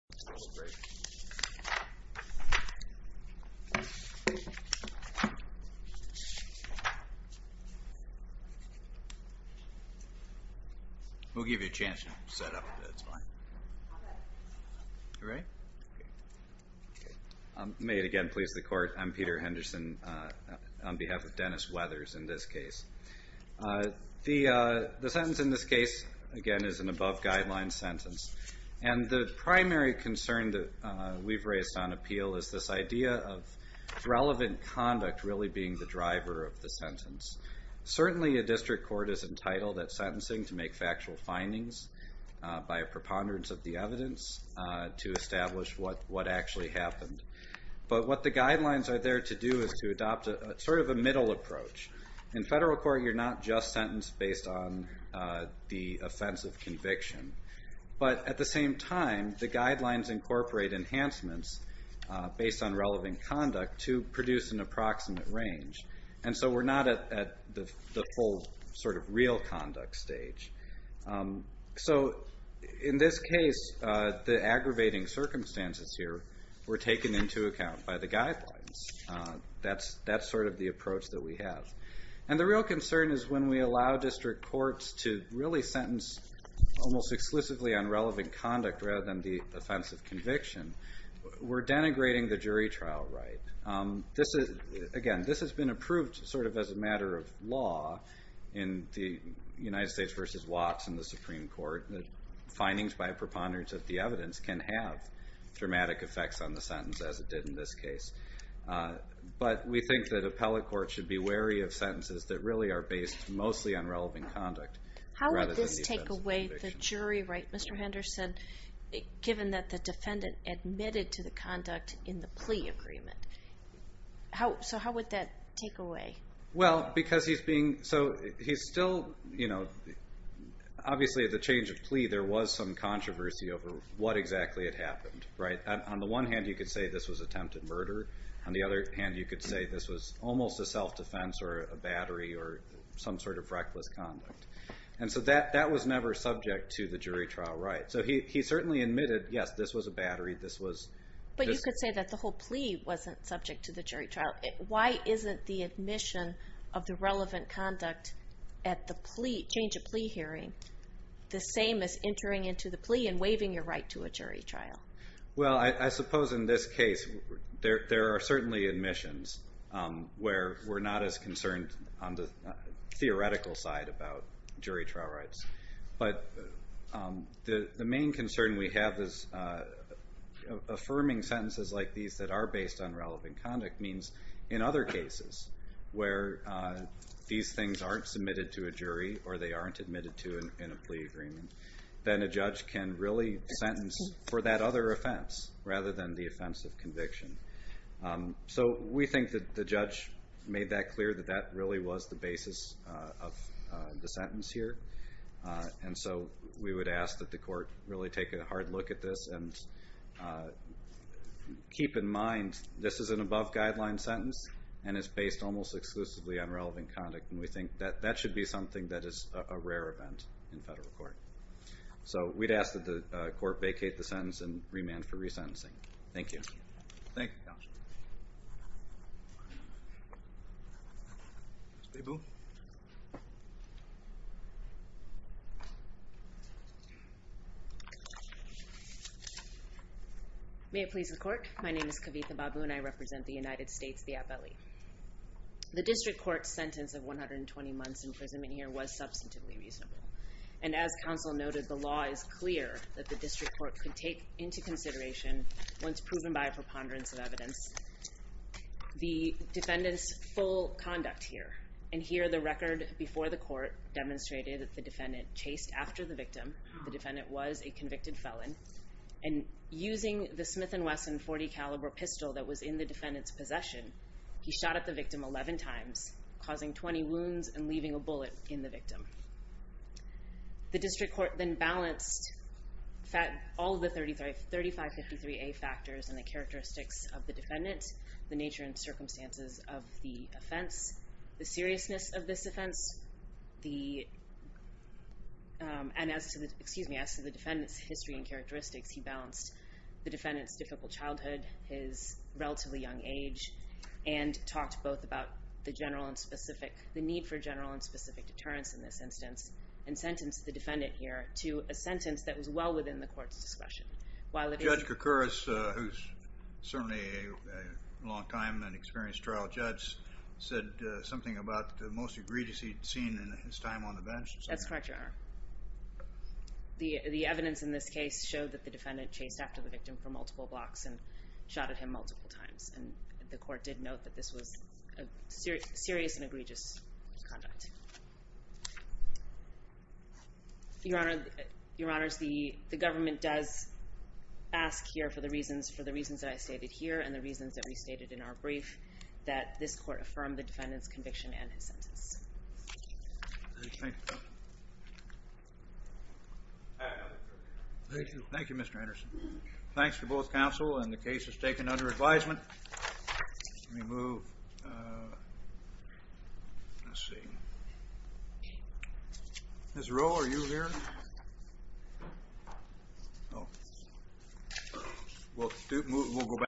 May it again please the court I'm Peter Henderson on behalf of Dennis Weathers in this case. The the sentence in this case again is an above guideline sentence and the primary concern that we've raised on appeal is this idea of relevant conduct really being the driver of the sentence certainly a district court is entitled that sentencing to make factual findings by a preponderance of the evidence to establish what what actually happened but what the guidelines are there to do is to adopt a sort of a middle approach in federal court. You're not just sentenced based on the offense of conviction but at the same time the guidelines incorporate enhancements based on relevant conduct to produce an approximate range and so we're not at the old sort of real conduct stage so in this case the aggravating circumstances here were taken into account by the guidelines that's that's sort of the approach that we have and the real concern is when we allow district courts to really sentence almost exclusively on relevant conduct rather than the offense of conviction we're denigrating the jury trial right this is again this has been approved sort of as a matter of law in the United States versus Watts in the Supreme Court findings by a preponderance of the evidence can have dramatic effects on the sentence as it did in this case but we think that appellate court should be wary of sentences that really are based mostly on relevant conduct. How does this take away the jury right Mr. Henderson given that the defendant admitted to the conduct in the plea agreement how so how would that take away. Well because he's being so he's still you know obviously the change of plea there was some controversy over what exactly it happened right on the one hand you could say this was attempted murder on the other hand you could say this was almost a self defense or a battery or some sort of reckless conduct and so that that was never subject to the jury trial right so he certainly admitted yes this was a battery this was. But you could say that the whole plea wasn't subject to the jury trial why isn't the admission of the relevant conduct at the plea change a plea hearing the same as entering into the plea and waiving your right to a jury trial. Well I suppose in this case there are certainly admissions where we're not as concerned on the theoretical side about jury trial rights but the main concern we have is affirming sentences like these that are based on relevant conduct means in other cases where these things aren't submitted to a jury or they aren't admitted to a plea agreement then a judge can really sentence for that other offense rather than the offensive conviction. So we think that the judge made that clear that that really was the basis of the sentence here and so we would ask that the court really take a hard look at this and keep in mind this is an above guideline sentence and it's based almost exclusively on relevant conduct and we think that that should be something that is a rare event in federal court. So we'd ask that the court vacate the sentence and remand for resentencing. Thank you. May it please the court my name is Kavitha Babu and I represent the United States the FLE. The district court sentence of 120 months in prison in here was substantively reasonable and as counsel noted the law is clear that the district court can take into consideration once proven by a preponderance of evidence. The defendants full conduct here and here the record before the court demonstrated that the defendant chased after the victim the defendant was a convicted felon. And using the Smith and Wesson 40 caliber pistol that was in the defendant's possession he shot at the victim 11 times causing 20 wounds and leaving a bullet in the victim. The district court then balanced that all the 33 35 53 a factors and the characteristics of the defendant the nature and circumstances of the offense the seriousness of this offense the. And as to the excuse me as to the defendant's history and characteristics he balanced the defendant's difficult childhood his relatively young age and talked both about the general and specific the need for general and specific deterrence in this instance and sentenced the defendant here to a sentence that was well within the court's discretion while the judge. Occurs certainly a long time and experienced trial judge said something about the most egregious he'd seen in his time on the bench that's correct. The evidence in this case showed that the defendant chased after the victim for multiple blocks and shot at him multiple times and the court did note that this was a serious serious and egregious. Your honor your honors the government does ask here for the reasons for the reasons I stated here and the reasons that we stated in our brief that this court from the defendant's conviction and his sentence. Thank you thank you Mr. Anderson thanks for both counsel and the case is taken under advisement we move. Let's see. Ms. Rowe are you here. Well we'll go back.